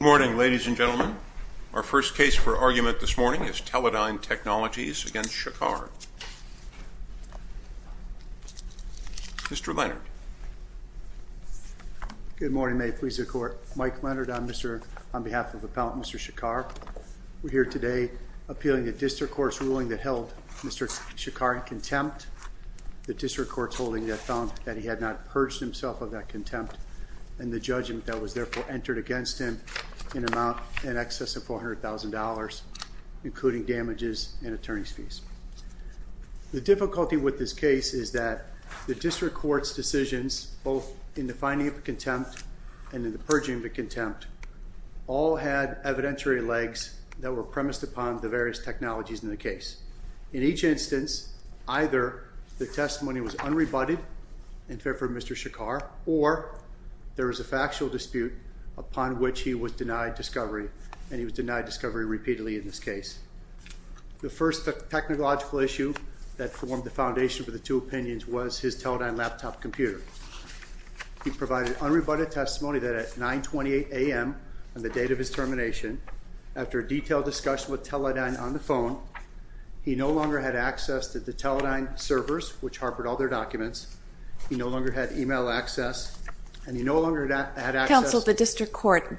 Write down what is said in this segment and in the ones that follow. Good morning, ladies and gentlemen. Our first case for argument this morning is Teledyne Technologies v. Shekar. Mr. Leonard. Good morning, May it please the Court. Mike Leonard on behalf of Appellant Mr. Shekar. We're here today appealing the District Court's ruling that held Mr. Shekar in contempt. The District Court's holding that found that he had not purged himself of that contempt and the judgment that was therefore entered against him in amount in excess of $400,000 including damages and attorney's fees. The difficulty with this case is that the District Court's decisions both in the finding of contempt and in the purging of contempt all had evidentiary legs that were premised upon the various technologies in the case. In each instance, either the testimony was unrebutted in favor of Mr. Shekar or there was a factual dispute upon which he was denied discovery and he was denied discovery repeatedly in this case. The first technological issue that formed the foundation for the two opinions was his Teledyne laptop computer. He provided unrebutted testimony that at 928 a.m. on the date of his termination after a detailed discussion with Teledyne on the phone, he no longer had access to the Teledyne servers which harbored all their documents. He no longer had email access and he no longer had access... Counsel, the District Court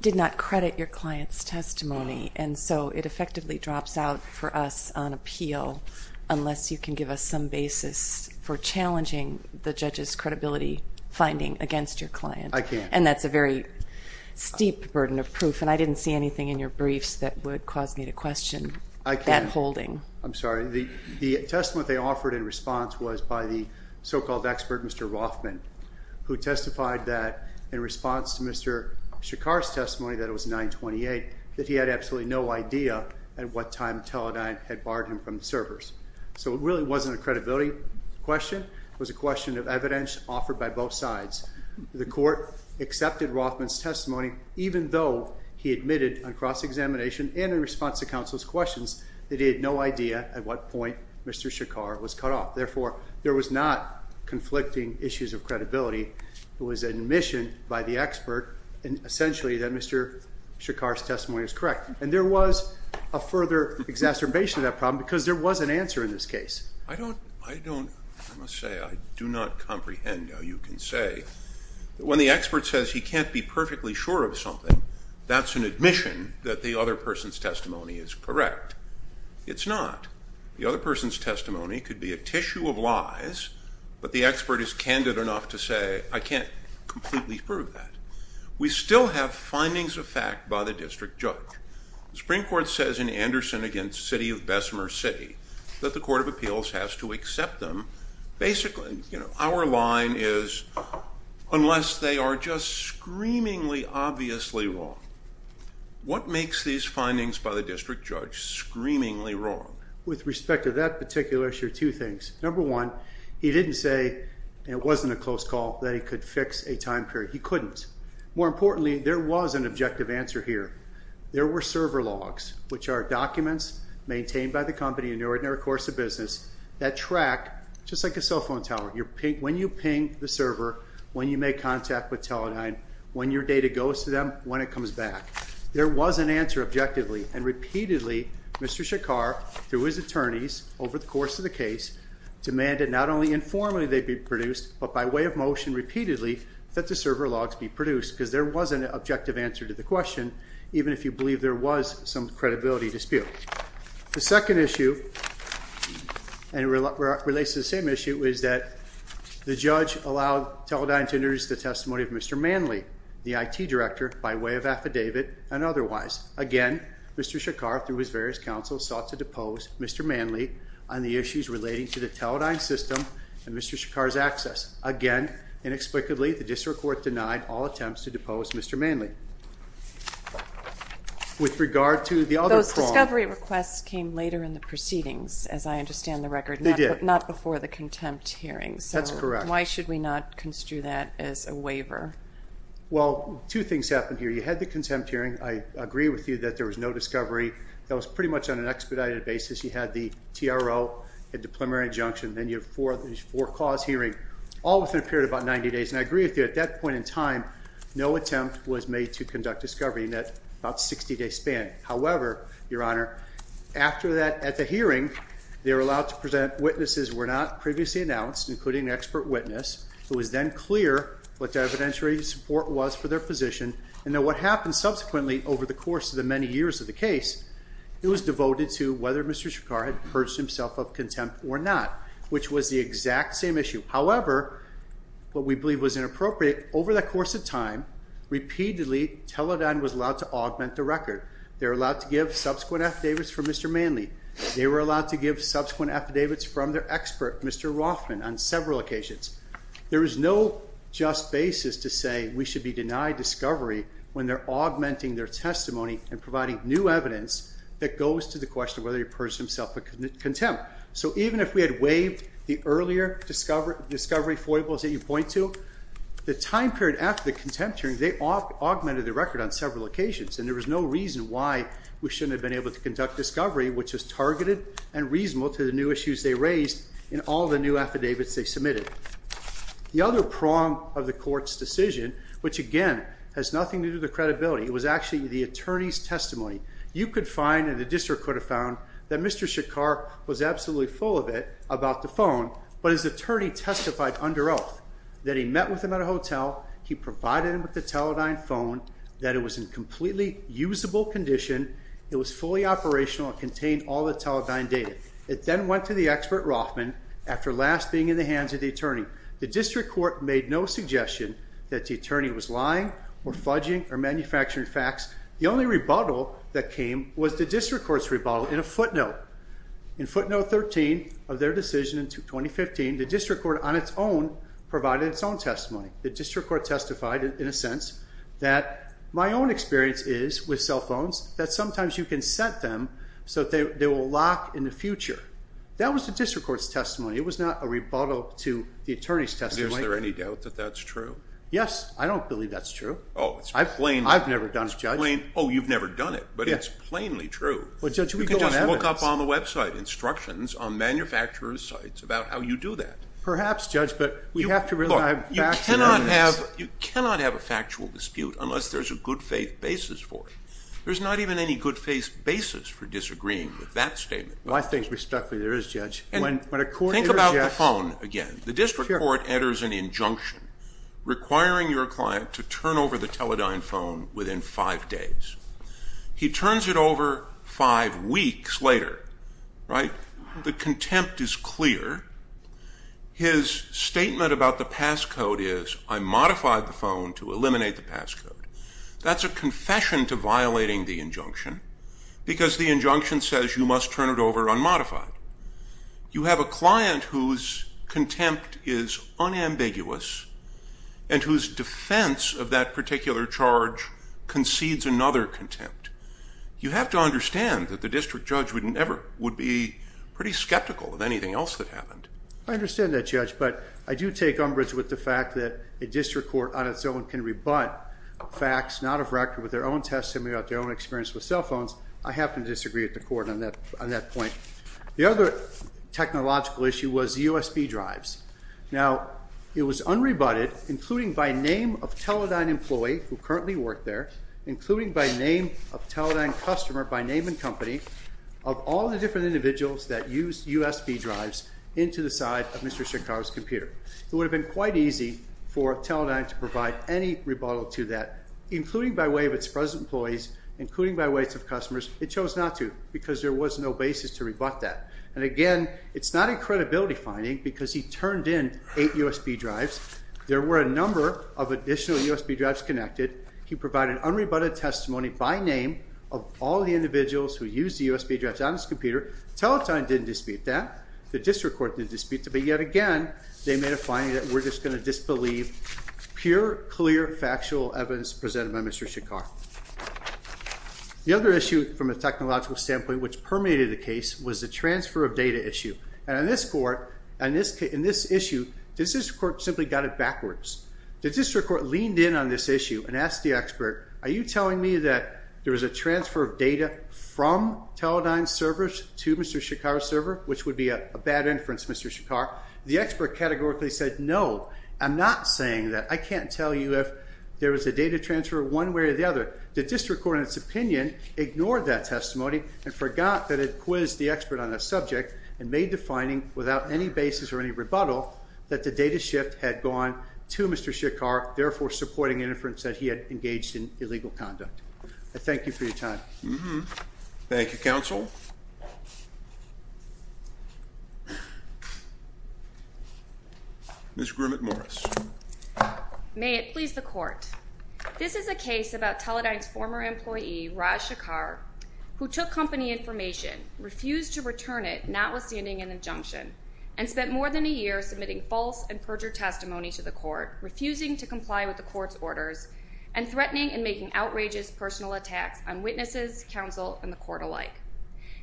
did not credit your client's testimony and so it effectively drops out for us on appeal unless you can give us some basis for challenging the judge's credibility finding against your client. I can't. And that's a very steep burden of proof and I didn't see anything in your briefs that would cause me to question that holding. I'm sorry. The testimony they offered in response was by the so-called expert Mr. Rothman who testified that in response to Mr. Shekar's testimony that it was 928 that he had absolutely no idea at what time Teledyne had barred him from the servers. So it really wasn't a credibility question. It was a question of evidence offered by both sides. The court accepted Rothman's testimony even though he admitted on cross-examination and in response to counsel's questions that he had no idea at what point Mr. Shekar was cut off. Therefore, there was not conflicting issues of credibility. It was admission by the expert and essentially that Mr. Shekar's testimony was correct. And there was a further exacerbation of that problem because there was an answer in this case. I don't, I don't, I must say I do not comprehend how you can say that when the expert says he can't be perfectly sure of something that's an admission that the other person's testimony is correct. It's not. The other person's testimony could be a tissue of lies but the expert is candid enough to say I can't completely prove that. We still have findings of fact by the district judge. The Supreme Court says in Anderson against City of Bessemer City that the Court of Appeals has to accept them. Basically, you know, our line is unless they are just screamingly obviously wrong. What makes these findings by the district judge screamingly wrong? With respect to that particular issue, two things. Number one, he didn't say it wasn't a close call that he could fix a time period. He couldn't. More importantly, there was an objective answer here. There were server logs which are documents maintained by the company in your ordinary course of business that track just like a cell phone tower. When you ping the server, when you make contact with Teledyne, when your data goes to them, when it comes back. There was an answer objectively and repeatedly Mr. Shakar through his attorneys over the course of the case demanded not only informally they be produced but by way of motion repeatedly that the server logs be produced because there was an objective answer to the question even if you believe there was some credibility dispute. The second issue and it relates to the same issue is that the judge allowed Teledyne to introduce the testimony of Mr. Manley, the IT director by way of affidavit and otherwise. Again, Mr. Shakar through his various counsel sought to depose Mr. Manley on the issues relating to the Teledyne system and Mr. Shakar's access. Again, inexplicably the district court denied all attempts to depose Mr. Manley. With regard to the other problem. Those discovery requests came later in the proceedings as I understand the record. They did. Not before the contempt hearing. That's correct. Why should we not construe that as a waiver? Well, two things happened here. You had the contempt hearing. I agree with you that there was no discovery. That was pretty much on an expedited basis. You had the TRO. You had the preliminary injunction. Then you have four cause hearing. All within a period of about 90 days. And I agree with you. At that point in time, no attempt was made to conduct discovery in that about 60 day span. However, your honor, after that at the hearing, they were allowed to present witnesses who were not previously announced, including an expert witness who was then clear what the evidentiary support was for their position. And then what happened subsequently over the course of the many years of the case, it was devoted to whether Mr. Shakar had purged himself of contempt or not, which was the exact same issue. However, what we believe was inappropriate, over that course of time, repeatedly Teledyne was allowed to augment the record. They were allowed to give subsequent affidavits from Mr. Manley. They were allowed to give subsequent affidavits from their expert, Mr. Rothman, on several occasions. There is no just basis to say we should be denied discovery when they're augmenting their testimony and providing new evidence that goes to the question of whether the person himself had contempt. So even if we had waived the earlier discovery foibles that you point to, the time period after the contempt hearing, they augmented the record on several occasions. And there was no reason why we shouldn't have been able to conduct discovery, which was targeted and reasonable to the new issues they raised in all the new affidavits they submitted. The other prong of the court's decision, which again has nothing to do with the credibility, it was actually the attorney's testimony. You could find, and the district could have found, that Mr. Shakar was absolutely full of it about the phone, but his attorney testified under oath that he met with him at a hotel, he provided him with the Teledyne phone, that it was in completely usable condition, it was fully operational, it contained all the Teledyne data. It then went to the expert, Rothman, after last being in the hands of the attorney. The district court made no suggestion that the attorney was lying or fudging or manufacturing facts. The only rebuttal that came was the district court's rebuttal in a footnote. In footnote 13 of their decision in 2015, the district court on its own provided its own testimony. The district court testified in a sense that my own experience is with cell phones that sometimes you can set them so that they will lock in the future. That was the district court's testimony. It was not a rebuttal to the attorney's testimony. Is there any doubt that that's true? Yes, I don't believe that's true. I've never done it, Judge. Oh, you've never done it, but it's plainly true. You can just look up on the website instructions on manufacturer's sites about how you do that. Perhaps, Judge, but we have to rely on facts and evidence. You cannot have a factual dispute unless there's a good faith basis for it. There's not even any good faith basis for disagreeing with that statement. I think respectfully there is, Judge. Think about the phone again. The district court enters an injunction requiring your client to turn over the Teledyne phone within five days. He turns it over five weeks later. The contempt is clear. His statement about the passcode is, I modified the phone to eliminate the passcode. That's a confession to violating the injunction because the injunction says you must turn it over unmodified. You have a client whose contempt is unambiguous and whose defense of that particular charge concedes another contempt. You have to understand that the district judge would be pretty skeptical of anything else that happened. I understand that, Judge, but I do take umbrage with the fact that a district court on its own can rebut facts not of record with their own testimony about their own experience with cell phones. I happen to disagree with the court on that point. The other technological issue was USB drives. Now, it was unrebutted, including by name of Teledyne employee who currently worked there, including by name of Teledyne customer, by name and company, of all the different individuals that used USB drives into the side of Mr. Chicago's computer. It would have been quite easy for Teledyne to provide any rebuttal to that, including by way of its present employees, including by way of its customers. It chose not to because there was no basis to rebut that. And again, it's not a credibility finding because he turned in eight USB drives. There were a number of additional USB drives connected. He provided unrebutted testimony by name of all the individuals who used the USB drives on his computer. Teledyne didn't dispute that. The district court didn't dispute that. But yet again, they made a finding that we're just going to disbelieve pure, clear, factual evidence presented by Mr. Chicago. The other issue from a technological standpoint which permeated the case was the transfer of data issue. And in this court, in this issue, the district court simply got it backwards. The district court leaned in on this issue and asked the expert, are you telling me that there was a transfer of data from Teledyne servers to Mr. Chicago's server, which would be a bad inference, Mr. Shakar? The expert categorically said, no, I'm not saying that. I can't tell you if there was a data transfer one way or the other. The district court, in its opinion, ignored that testimony and forgot that it quizzed the expert on the subject and made the finding without any basis or any rebuttal that the data shift had gone to Mr. Shakar, therefore supporting an inference that he had engaged in illegal conduct. I thank you for your time. Thank you, counsel. Ms. Grumit-Morris. May it please the court. This is a case about Teledyne's former employee, Raj Shakar, who took company information, refused to return it, notwithstanding an injunction, and spent more than a year submitting false and perjured testimony to the court, refusing to comply with the court's orders, and threatening and making outrageous personal attacks on witnesses, counsel, and the court alike.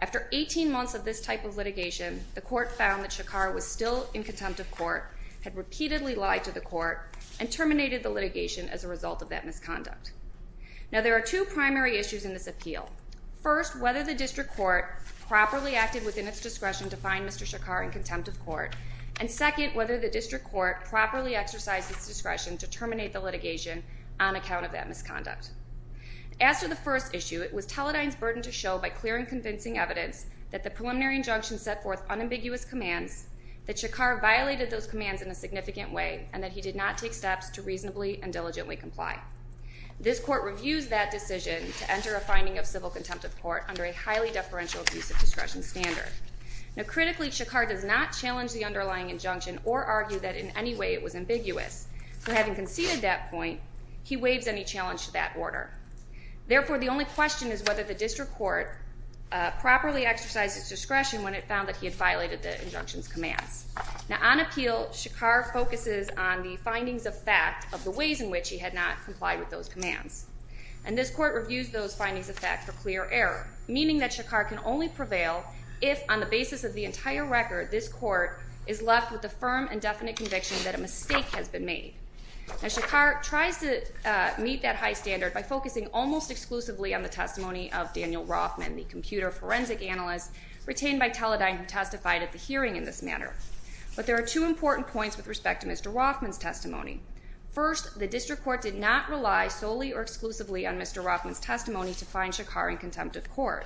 After 18 months of this type of litigation, the court found that Shakar was still in contempt of court, had repeatedly lied to the court, and terminated the litigation as a result of that misconduct. Now, there are two primary issues in this appeal. First, whether the district court properly acted within its discretion to find Mr. Shakar in contempt of court, and second, whether the district court properly exercised its discretion to terminate the litigation on account of that misconduct. As to the first issue, it was Teledyne's burden to show by clear and convincing evidence that the preliminary injunction set forth unambiguous commands, that Shakar violated those commands in a significant way, and that he did not take steps to reasonably and diligently comply. This court reviews that decision to enter a finding of civil contempt of court under a highly deferential abuse of discretion standard. Now, critically, Shakar does not challenge the underlying injunction or argue that in any way it was ambiguous. For having conceded that point, he waives any challenge to that order. Therefore, the only question is whether the district court properly exercised its discretion when it found that he had violated the injunction's commands. Now, on appeal, Shakar focuses on the findings of fact of the ways in which he had not complied with those commands, and this court reviews those findings of fact for clear error, meaning that Shakar can only prevail if, on the basis of the entire record, this court is left with a firm and definite conviction that a mistake has been made. Now, Shakar tries to meet that high standard by focusing almost exclusively on the testimony of Daniel Rothman, the computer forensic analyst retained by Teledyne who testified at the hearing in this matter. But there are two important points with respect to Mr. Rothman's testimony. First, the district court did not rely solely or exclusively on Mr. Rothman's testimony to find Shakar in contempt of court.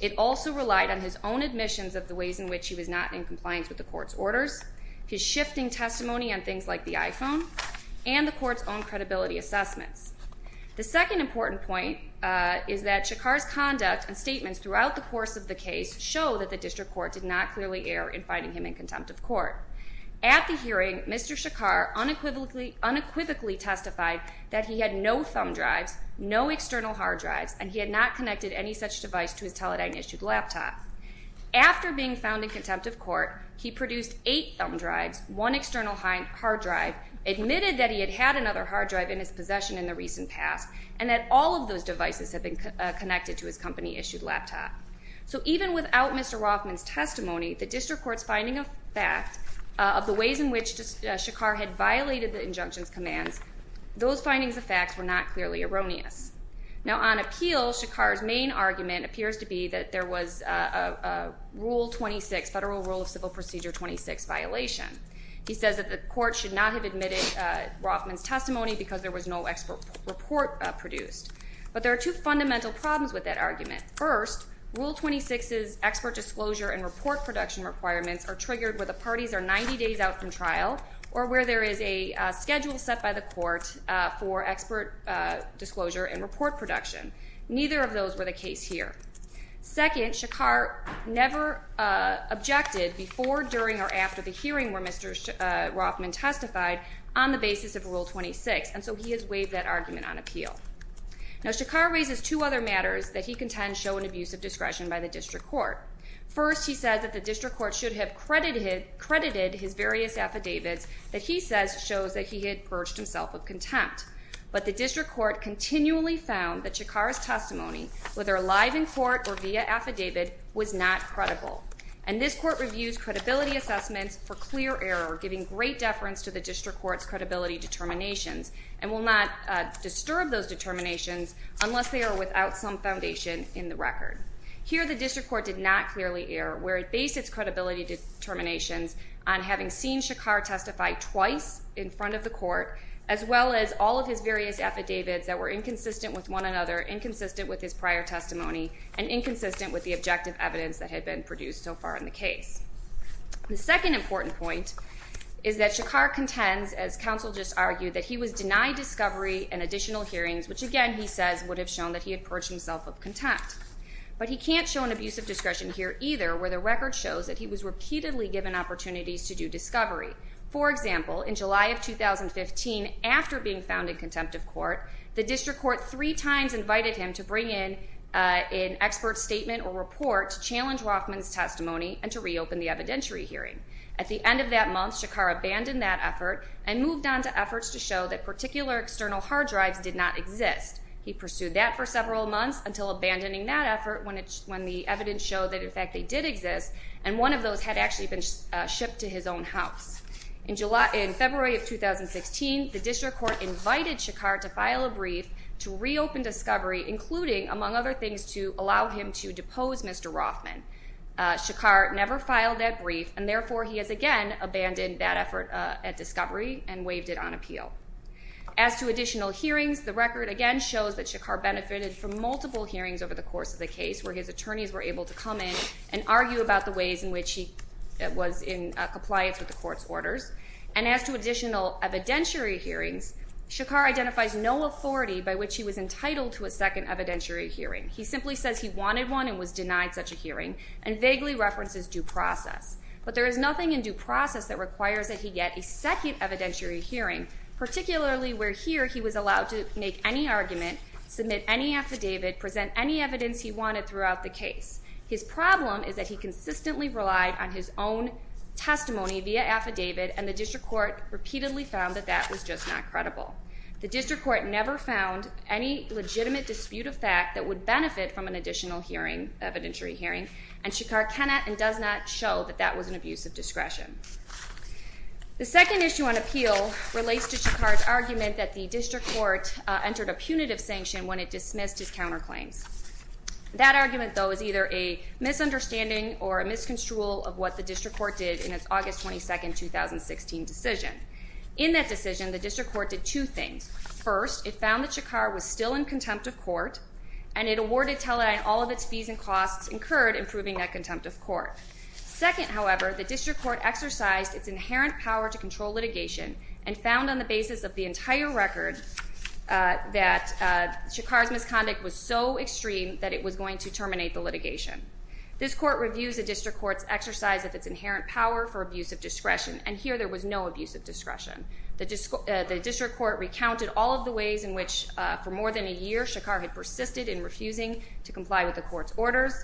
It also relied on his own admissions of the ways in which he was not in compliance with the court's orders, his shifting testimony on things like the iPhone, and the court's own credibility assessments. The second important point is that Shakar's conduct and statements throughout the course of the case show that the district court did not clearly err in finding him in contempt of court. At the hearing, Mr. Shakar unequivocally testified that he had no thumb drives, no external hard drives, and he had not connected any such device to his Teledyne-issued laptop. After being found in contempt of court, he produced eight thumb drives, one external hard drive, admitted that he had had another hard drive in his possession in the recent past, and that all of those devices had been connected to his company-issued laptop. So even without Mr. Rothman's testimony, the district court's finding of fact of the ways in which Shakar had violated the injunction's commands, those findings of facts were not clearly erroneous. Now on appeal, Shakar's main argument appears to be that there was a Federal Rule of Civil Procedure 26 violation. He says that the court should not have admitted Rothman's testimony because there was no expert report produced. First, Rule 26's expert disclosure and report production requirements are triggered where the parties are 90 days out from trial or where there is a schedule set by the court for expert disclosure and report production. Neither of those were the case here. Second, Shakar never objected before, during, or after the hearing where Mr. Rothman testified on the basis of Rule 26, and so he has waived that argument on appeal. Now Shakar raises two other matters that he contends show an abuse of discretion by the district court. First, he says that the district court should have credited his various affidavits that he says shows that he had perched himself with contempt. But the district court continually found that Shakar's testimony, whether live in court or via affidavit, was not credible. And this court reviews credibility assessments for clear error, giving great deference to the district court's credibility determinations, and will not disturb those determinations unless they are without some foundation in the record. Here, the district court did not clearly err, where it based its credibility determinations on having seen Shakar testify twice in front of the court, as well as all of his various affidavits that were inconsistent with one another, inconsistent with his prior testimony, and inconsistent with the objective evidence that had been produced so far in the case. The second important point is that Shakar contends, as counsel just argued, that he was denied discovery and additional hearings, which again, he says, would have shown that he had perched himself with contempt. But he can't show an abuse of discretion here either, where the record shows that he was repeatedly given opportunities to do discovery. For example, in July of 2015, after being found in contempt of court, the district court three times invited him to bring in an expert statement or report to challenge Rothman's testimony and to reopen the evidentiary hearing. At the end of that month, Shakar abandoned that effort and moved on to efforts to show that particular external hard drives did not exist. He pursued that for several months until abandoning that effort when the evidence showed that, in fact, they did exist, and one of those had actually been shipped to his own house. In February of 2016, the district court invited Shakar to file a brief to reopen discovery, including, among other things, to allow him to depose Mr. Rothman. Shakar never filed that brief, and therefore he has again abandoned that effort at discovery and waived it on appeal. As to additional hearings, the record again shows that Shakar benefited from multiple hearings over the course of the case, where his attorneys were able to come in and argue about the ways in which he was in compliance with the court's orders. And as to additional evidentiary hearings, Shakar identifies no authority by which he was entitled to a second evidentiary hearing. He simply says he wanted one and was denied such a hearing, and vaguely references due process. But there is nothing in due process that requires that he get a second evidentiary hearing, particularly where here he was allowed to make any argument, submit any affidavit, present any evidence he wanted throughout the case. His problem is that he consistently relied on his own testimony via affidavit, and the district court repeatedly found that that was just not credible. The district court never found any legitimate dispute of fact that would benefit from an additional hearing, evidentiary hearing, and Shakar cannot and does not show that that was an abuse of discretion. The second issue on appeal relates to Shakar's argument that the district court entered a punitive sanction when it dismissed his counterclaims. That argument, though, is either a misunderstanding or a misconstrual of what the district court did in its August 22, 2016, decision. In that decision, the district court did two things. First, it found that Shakar was still in contempt of court, and it awarded Teledyne all of its fees and costs incurred in proving that contempt of court. Second, however, the district court exercised its inherent power to control litigation and found on the basis of the entire record that Shakar's misconduct was so extreme that it was going to terminate the litigation. This court reviews the district court's exercise of its inherent power for abuse of discretion, and here there was no abuse of discretion. The district court recounted all of the ways in which, for more than a year, Shakar had persisted in refusing to comply with the court's orders,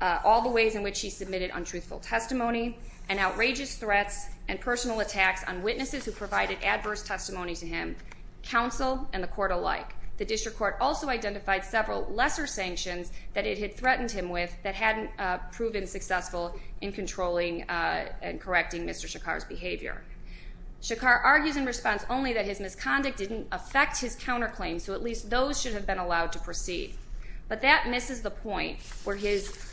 all the ways in which he submitted untruthful testimony, and outrageous threats and personal attacks on witnesses who provided adverse testimony to him, counsel, and the court alike. The district court also identified several lesser sanctions that it had threatened him with that hadn't proven successful in controlling and correcting Mr. Shakar's behavior. Shakar argues in response only that his misconduct didn't affect his counterclaims, so at least those should have been allowed to proceed. But that misses the point where his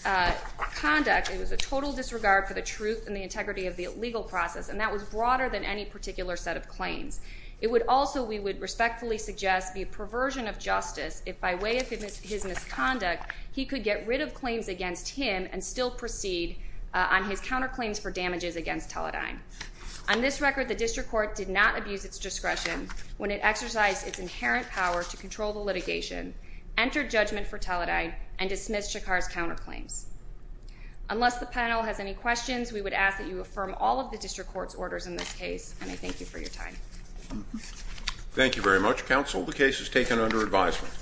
conduct was a total disregard for the truth and the integrity of the legal process, and that was broader than any particular set of claims. It would also, we would respectfully suggest, be a perversion of justice if, by way of his misconduct, he could get rid of claims against him and still proceed on his counterclaims for damages against Teledyne. On this record, the district court did not abuse its discretion when it exercised its inherent power to control the litigation, enter judgment for Teledyne, and dismiss Shakar's counterclaims. Unless the panel has any questions, we would ask that you affirm all of the district court's orders in this case, and I thank you for your time. Thank you very much, counsel. The case is taken under advisement.